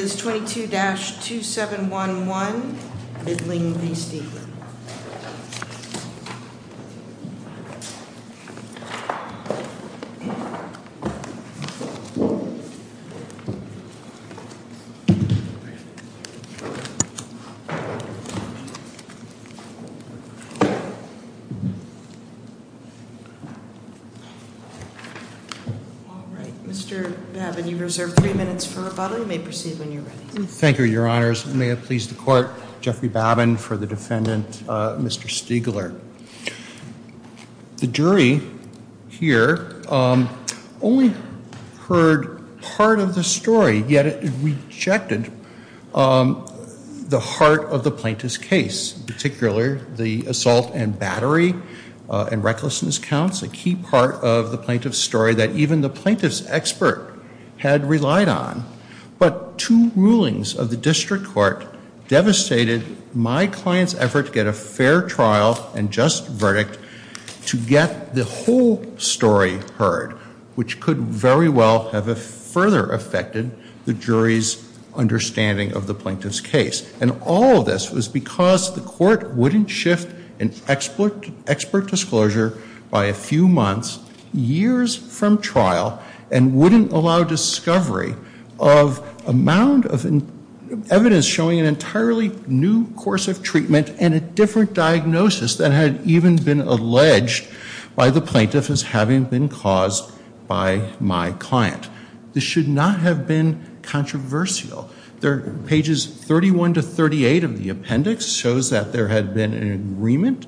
This is 22-2711 Middling v. Stiegler. Mr. Babbin, you have three minutes for rebuttal, you may proceed when you're ready. Thank you, your honors. May it please the court, Jeffrey Babbin for the defendant, Mr. Stiegler. The jury here only heard part of the story, yet it rejected the heart of the plaintiff's case, particularly the assault and battery and recklessness counts, a key part of the plaintiff's story that even the plaintiff's expert had relied on. But two rulings of the district court devastated my client's effort to get a fair trial and just verdict to get the whole story heard, which could very well have further affected the jury's understanding of the plaintiff's case. And all of this was because the court wouldn't shift an expert disclosure by a few months, years from trial, and wouldn't allow discovery of a mound of evidence showing an entirely new course of treatment and a different diagnosis that had even been alleged by the plaintiff as having been caused by my client. This should not have been controversial. Pages 31 to 38 of the appendix shows that there had been an agreement,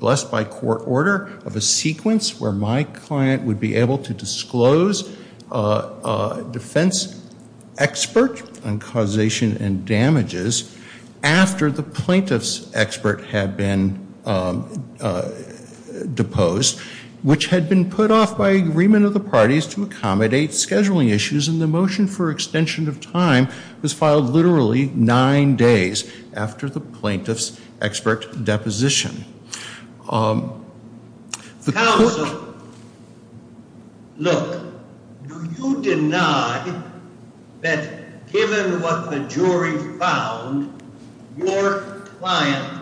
blessed by court order, of a sequence where my client would be able to disclose a defense expert on causation and damages after the plaintiff's expert had been deposed, which had been put off by agreement of the parties to accommodate scheduling issues, and the motion for extension of time was filed literally nine days after the plaintiff's expert deposition. Counsel, look, do you deny that given what the jury found, your client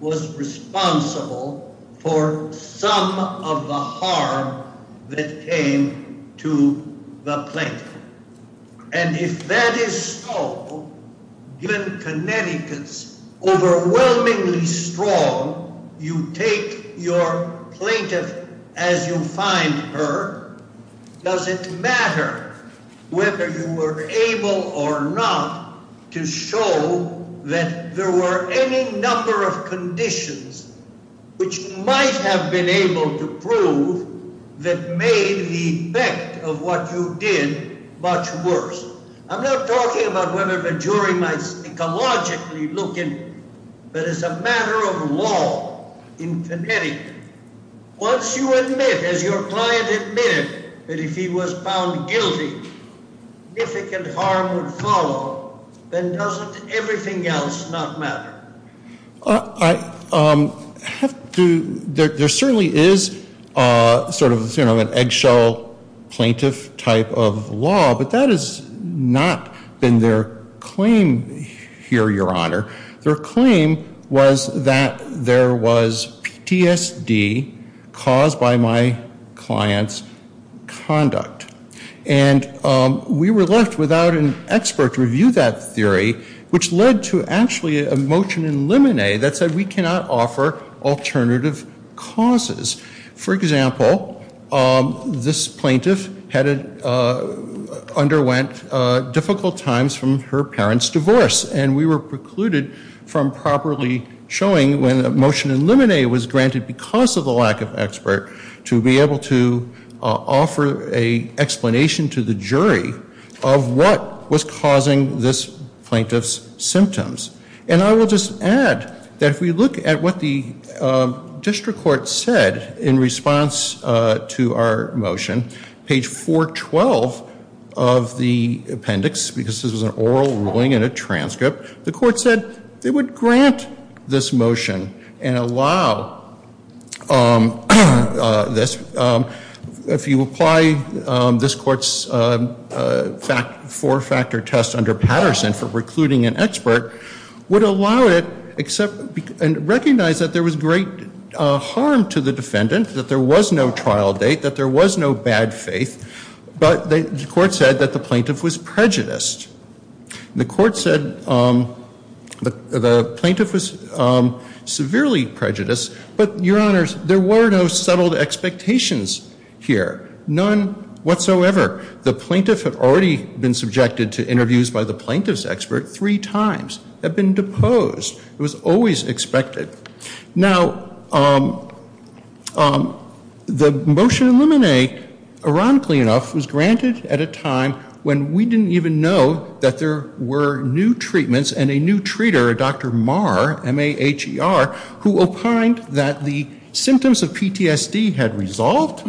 was responsible for some of the harm that came to the plaintiff? And if that is so, given Connecticut's overwhelmingly strong, you take your plaintiff as you find her, does it matter whether you were able or not to show that there were any number of conditions which might have been able to prove that made the effect of what you did much worse? I'm not talking about whether the jury might psychologically look in, but as a matter of law in Connecticut, once you admit, as your client admitted, that if he was found guilty, significant harm would follow, then doesn't everything else not matter? There certainly is sort of an eggshell plaintiff type of law, but that has not been their claim here, Your Honor. Their claim was that there was PTSD caused by my client's conduct. And we were left without an expert to review that theory, which led to actually a motion in limine that said we cannot offer alternative causes. For example, this plaintiff underwent difficult times from her parents' divorce, and we were precluded from properly showing when a motion in limine was granted because of the lack of expert to be able to offer an explanation to the jury of what was causing this plaintiff's symptoms. And I will just add that if we look at what the district court said in response to our motion, page 412 of the appendix, because this was an oral ruling and a transcript, the court said they would grant this motion and allow this. If you apply this court's four-factor test under Patterson for precluding an expert, would allow it and recognize that there was great harm to the defendant, that there was no trial date, that there was no bad faith, but the court said that the plaintiff was prejudiced. The court said the plaintiff was severely prejudiced, but, Your Honors, there were no settled expectations here. None whatsoever. The plaintiff had already been subjected to interviews by the plaintiff's expert three times, had been deposed. It was always expected. Now, the motion in limine, ironically enough, was granted at a time when we didn't even know that there were new treatments and a new treater, Dr. Marr, M-A-H-E-R, who opined that the symptoms of PTSD had resolved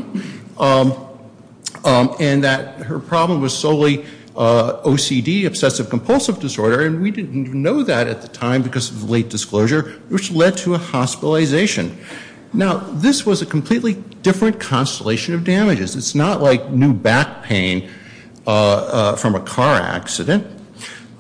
and that her problem was solely OCD, obsessive compulsive disorder, and we didn't even know that at the time because of the late disclosure, which led to a hospitalization. Now, this was a completely different constellation of damages. It's not like new back pain from a car accident.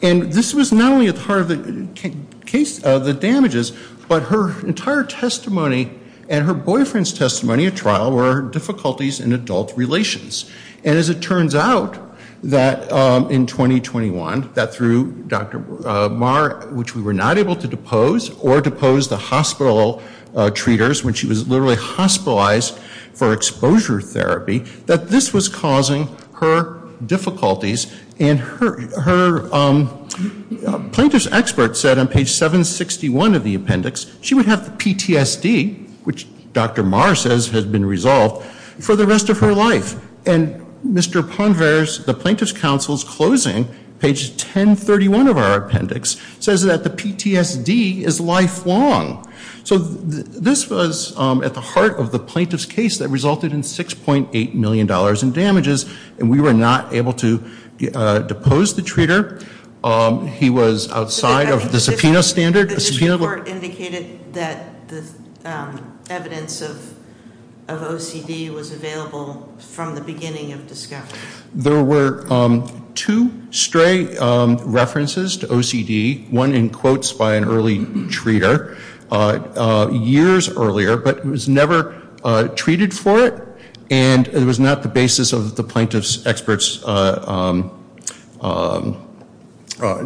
And this was not only part of the damages, but her entire testimony and her boyfriend's testimony at trial were difficulties in adult relations. And as it turns out that in 2021, that through Dr. Marr, which we were not able to depose or depose the hospital treaters when she was literally hospitalized for exposure therapy, that this was causing her difficulties. And her plaintiff's expert said on page 761 of the appendix she would have PTSD, which Dr. Marr says has been resolved, for the rest of her life. And Mr. Ponvers, the plaintiff's counsel's closing, page 1031 of our appendix, says that the PTSD is lifelong. So this was at the heart of the plaintiff's case that resulted in $6.8 million in damages, and we were not able to depose the treater. He was outside of the subpoena standard. The court indicated that the evidence of OCD was available from the beginning of discovery. There were two stray references to OCD, one in quotes by an early treater, years earlier, but it was never treated for it, and it was not the basis of the plaintiff's expert's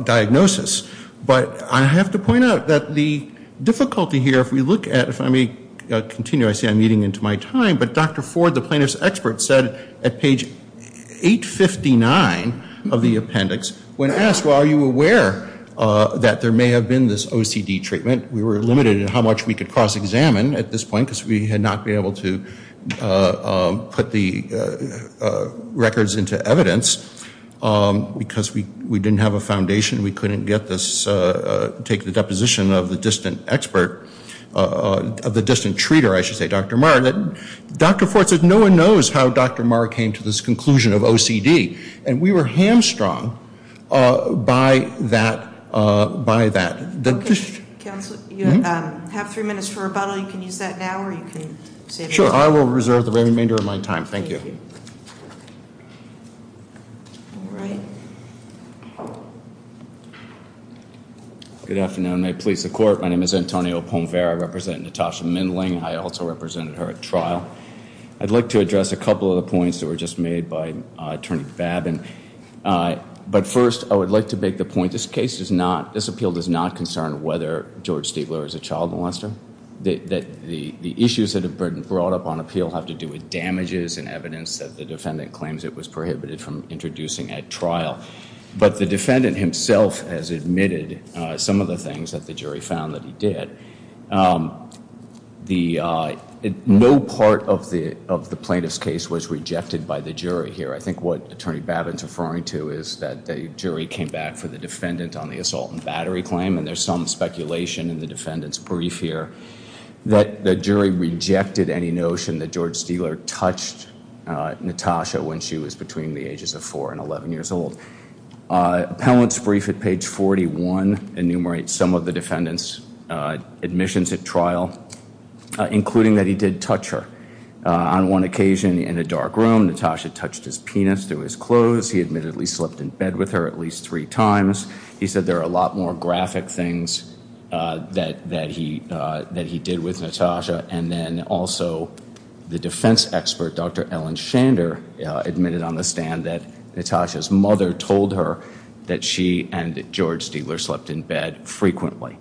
diagnosis. But I have to point out that the difficulty here, if we look at, if I may continue, I see I'm eating into my time, but Dr. Ford, the plaintiff's expert, said at page 859 of the appendix, when asked, well, are you aware that there may have been this OCD treatment, we were limited in how much we could cross-examine at this point, because we had not been able to put the records into evidence, because we didn't have a foundation, we couldn't get this, take the deposition of the distant expert, of the distant treater, I should say, Dr. Marr. Dr. Ford said no one knows how Dr. Marr came to this conclusion of OCD, and we were hamstrung by that. Counsel, you have three minutes for rebuttal. You can use that now, or you can save it. I will reserve the remainder of my time. Thank you. All right. Good afternoon. May it please the Court. My name is Antonio Pomvera. I represent Natasha Mindling. I also represented her at trial. I'd like to address a couple of the points that were just made by Attorney Babin. But first, I would like to make the point this case does not, this appeal does not concern whether George Stigler is a child molester. The issues that have been brought up on appeal have to do with damages and evidence that the defendant claims it was prohibited from introducing at trial. But the defendant himself has admitted some of the things that the jury found that he did. No part of the plaintiff's case was rejected by the jury here. I think what Attorney Babin is referring to is that the jury came back for the defendant on the assault and battery claim, and there's some speculation in the defendant's brief here, that the jury rejected any notion that George Stigler touched Natasha when she was between the ages of four and 11 years old. Appellant's brief at page 41 enumerates some of the defendant's admissions at trial, including that he did touch her. On one occasion in a dark room, Natasha touched his penis through his clothes. He admittedly slept in bed with her at least three times. He said there are a lot more graphic things that he did with Natasha. And then also the defense expert, Dr. Ellen Shander, admitted on the stand that Natasha's mother told her that she and George Stigler slept in bed frequently.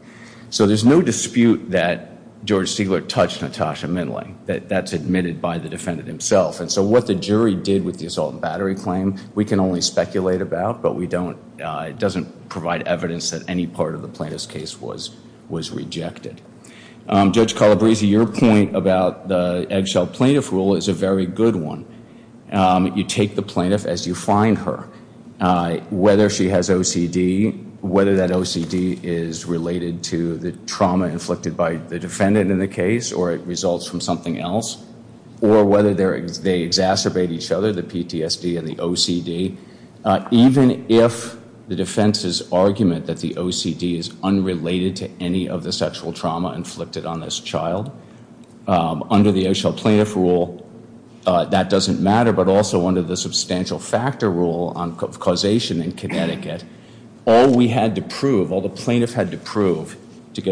So there's no dispute that George Stigler touched Natasha Minley. That's admitted by the defendant himself. And so what the jury did with the assault and battery claim we can only speculate about, but it doesn't provide evidence that any part of the plaintiff's case was rejected. Judge Calabresi, your point about the eggshell plaintiff rule is a very good one. You take the plaintiff as you find her. Whether she has OCD, whether that OCD is related to the trauma inflicted by the defendant in the case or it results from something else, or whether they exacerbate each other, the PTSD and the OCD, even if the defense's argument that the OCD is unrelated to any of the sexual trauma inflicted on this child, under the eggshell plaintiff rule that doesn't matter, but also under the substantial factor rule on causation in Connecticut, all we had to prove, all the plaintiff had to prove to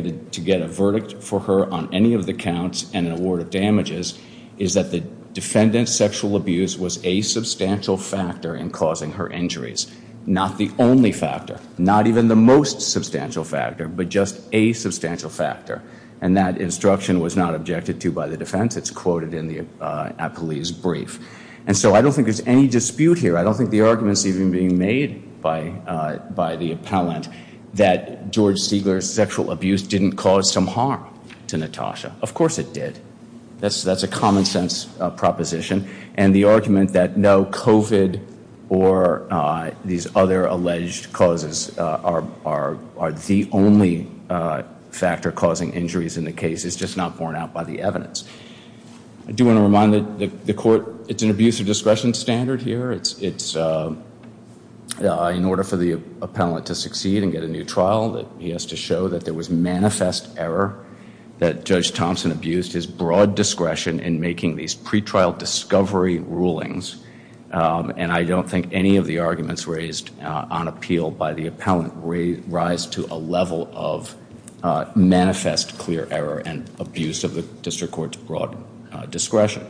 get a verdict for her on any of the counts and an award of damages is that the defendant's sexual abuse was a substantial factor in causing her injuries, not the only factor, not even the most substantial factor, but just a substantial factor, and that instruction was not objected to by the defense. It's quoted in the appellee's brief. And so I don't think there's any dispute here. I don't think the argument's even being made by the appellant that George Siegler's sexual abuse didn't cause some harm to Natasha. Of course it did. That's a common sense proposition. And the argument that no, COVID or these other alleged causes are the only factor causing injuries in the case is just not borne out by the evidence. I do want to remind the court it's an abuse of discretion standard here. It's in order for the appellant to succeed and get a new trial, that he has to show that there was manifest error, that Judge Thompson abused his broad discretion in making these pretrial discovery rulings, and I don't think any of the arguments raised on appeal by the appellant rise to a level of manifest clear error and abuse of the district court's broad discretion.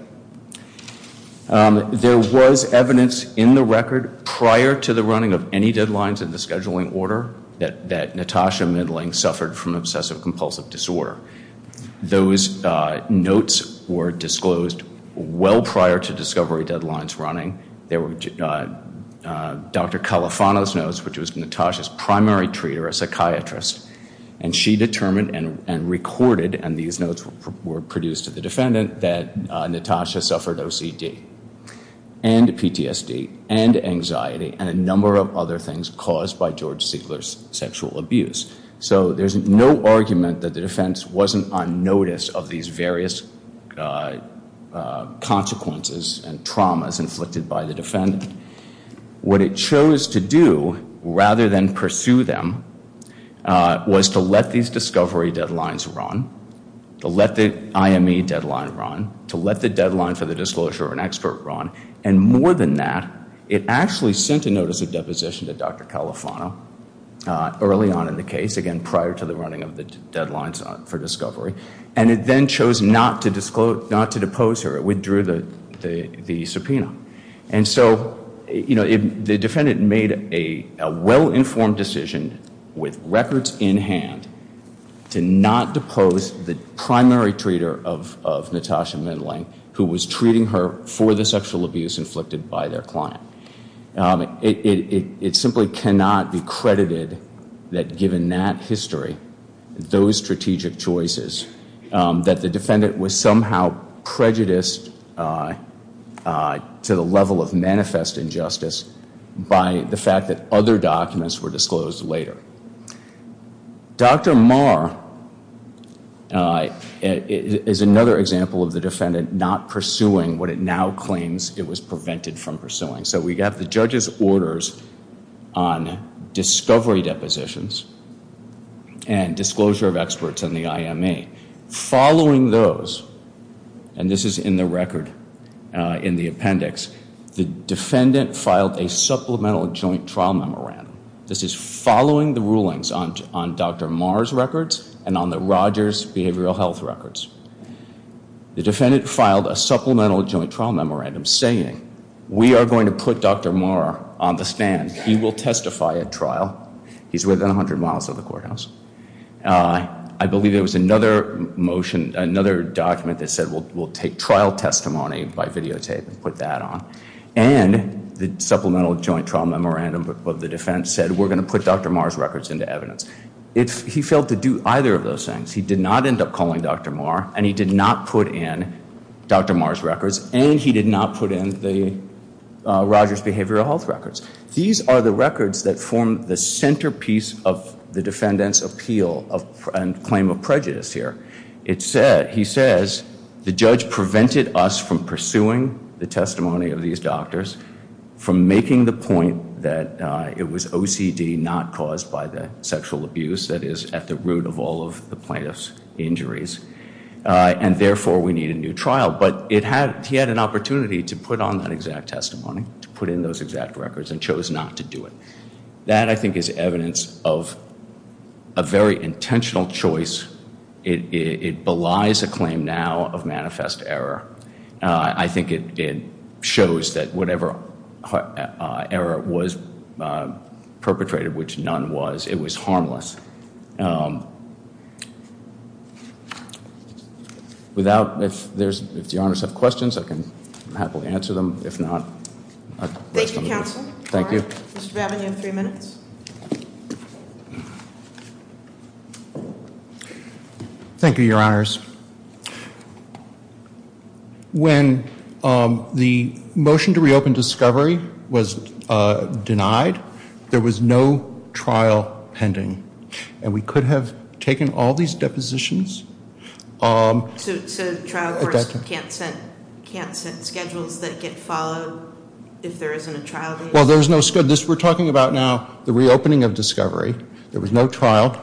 There was evidence in the record prior to the running of any deadlines in the scheduling order that Natasha Middling suffered from obsessive-compulsive disorder. Those notes were disclosed well prior to discovery deadlines running. There were Dr. Califano's notes, which was Natasha's primary treater, a psychiatrist, and she determined and recorded, and these notes were produced to the defendant, that Natasha suffered OCD and PTSD and anxiety and a number of other things caused by George Siegler's sexual abuse. So there's no argument that the defense wasn't on notice of these various consequences and traumas inflicted by the defendant. What it chose to do, rather than pursue them, was to let these discovery deadlines run, to let the IME deadline run, to let the deadline for the disclosure of an expert run, and more than that, it actually sent a notice of deposition to Dr. Califano early on in the case, again prior to the running of the deadlines for discovery, and it then chose not to depose her. It withdrew the subpoena. And so, you know, the defendant made a well-informed decision with records in hand to not depose the primary treater of Natasha Middling, who was treating her for the sexual abuse inflicted by their client. It simply cannot be credited that given that history, those strategic choices, that the defendant was somehow prejudiced to the level of manifest injustice by the fact that other documents were disclosed later. Dr. Marr is another example of the defendant not pursuing what it now claims it was prevented from pursuing. So we have the judge's orders on discovery depositions and disclosure of experts in the IME. Following those, and this is in the record in the appendix, the defendant filed a supplemental joint trial memorandum. This is following the rulings on Dr. Marr's records and on the Rogers behavioral health records. The defendant filed a supplemental joint trial memorandum saying, we are going to put Dr. Marr on the stand. He will testify at trial. He's within 100 miles of the courthouse. I believe there was another motion, another document that said, we'll take trial testimony by videotape and put that on. And the supplemental joint trial memorandum of the defense said, we're going to put Dr. Marr's records into evidence. He failed to do either of those things. He did not end up calling Dr. Marr, and he did not put in Dr. Marr's records, and he did not put in the Rogers behavioral health records. These are the records that form the centerpiece of the defendant's appeal and claim of prejudice here. He says, the judge prevented us from pursuing the testimony of these doctors, from making the point that it was OCD not caused by the sexual abuse that is at the root of all of the plaintiff's injuries, and therefore we need a new trial. But he had an opportunity to put on that exact testimony, to put in those exact records, and chose not to do it. That, I think, is evidence of a very intentional choice. It belies a claim now of manifest error. I think it shows that whatever error was perpetrated, which none was, it was harmless. Without, if the honors have questions, I can happily answer them. If not, I'll rest on my boots. Thank you, counsel. Thank you. Mr. Babbin, you have three minutes. Thank you, your honors. When the motion to reopen discovery was denied, there was no trial pending. And we could have taken all these depositions. So trial courts can't set schedules that get followed if there isn't a trial date? Well, there's no schedule. We're talking about now the reopening of discovery. There was no trial.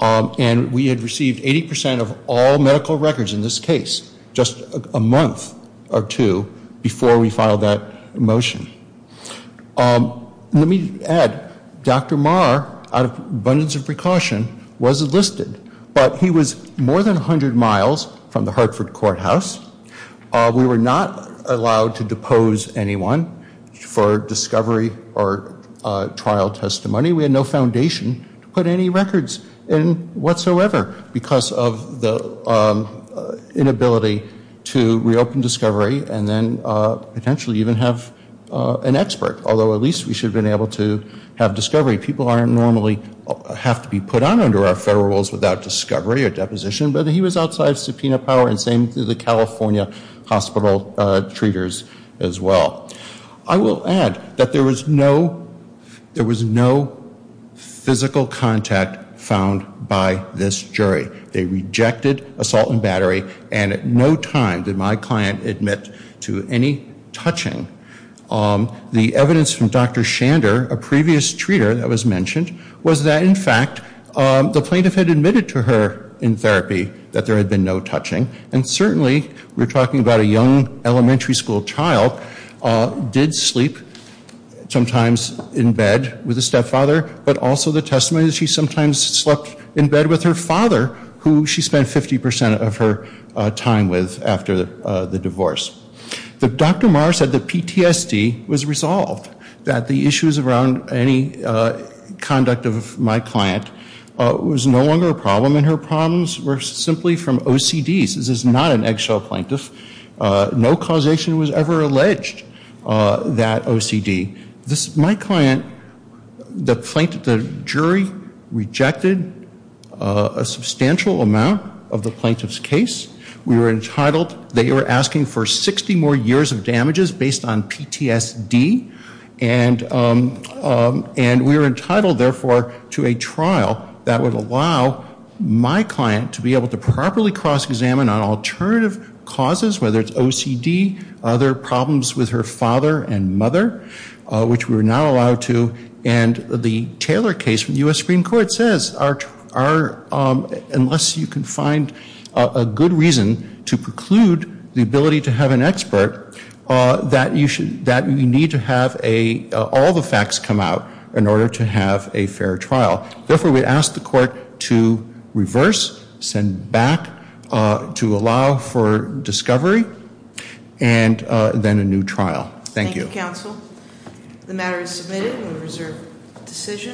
And we had received 80% of all medical records in this case just a month or two before we filed that motion. Let me add, Dr. Marr, out of abundance of precaution, was enlisted. But he was more than 100 miles from the Hartford courthouse. We were not allowed to depose anyone for discovery or trial testimony. We had no foundation to put any records in whatsoever because of the inability to reopen discovery and then potentially even have an expert, although at least we should have been able to have discovery. People normally have to be put on under our federal rules without discovery or deposition. But he was outside subpoena power, and same to the California hospital treaters as well. I will add that there was no physical contact found by this jury. They rejected assault and battery. And at no time did my client admit to any touching. The evidence from Dr. Shander, a previous treater that was mentioned, was that in fact the plaintiff had admitted to her in therapy that there had been no touching. And certainly, we're talking about a young elementary school child, did sleep sometimes in bed with a stepfather, but also the testimony that she sometimes slept in bed with her father, who she spent 50% of her time with after the divorce. Dr. Marr said that PTSD was resolved, that the issues around any conduct of my client was no longer a problem, and her problems were simply from OCDs. This is not an eggshell plaintiff. No causation was ever alleged, that OCD. My client, the jury rejected a substantial amount of the plaintiff's case. We were entitled, they were asking for 60 more years of damages based on PTSD. And we were entitled, therefore, to a trial that would allow my client to be able to properly cross-examine on alternative causes, whether it's OCD, other problems with her father and mother, which we were not allowed to. And the Taylor case from the U.S. Supreme Court says, unless you can find a good reason to preclude the ability to have an expert, that you need to have all the facts come out in order to have a fair trial. Therefore, we ask the court to reverse, send back, to allow for discovery, and then a new trial. Thank you. Thank you, counsel. The matter is submitted, and we reserve decision.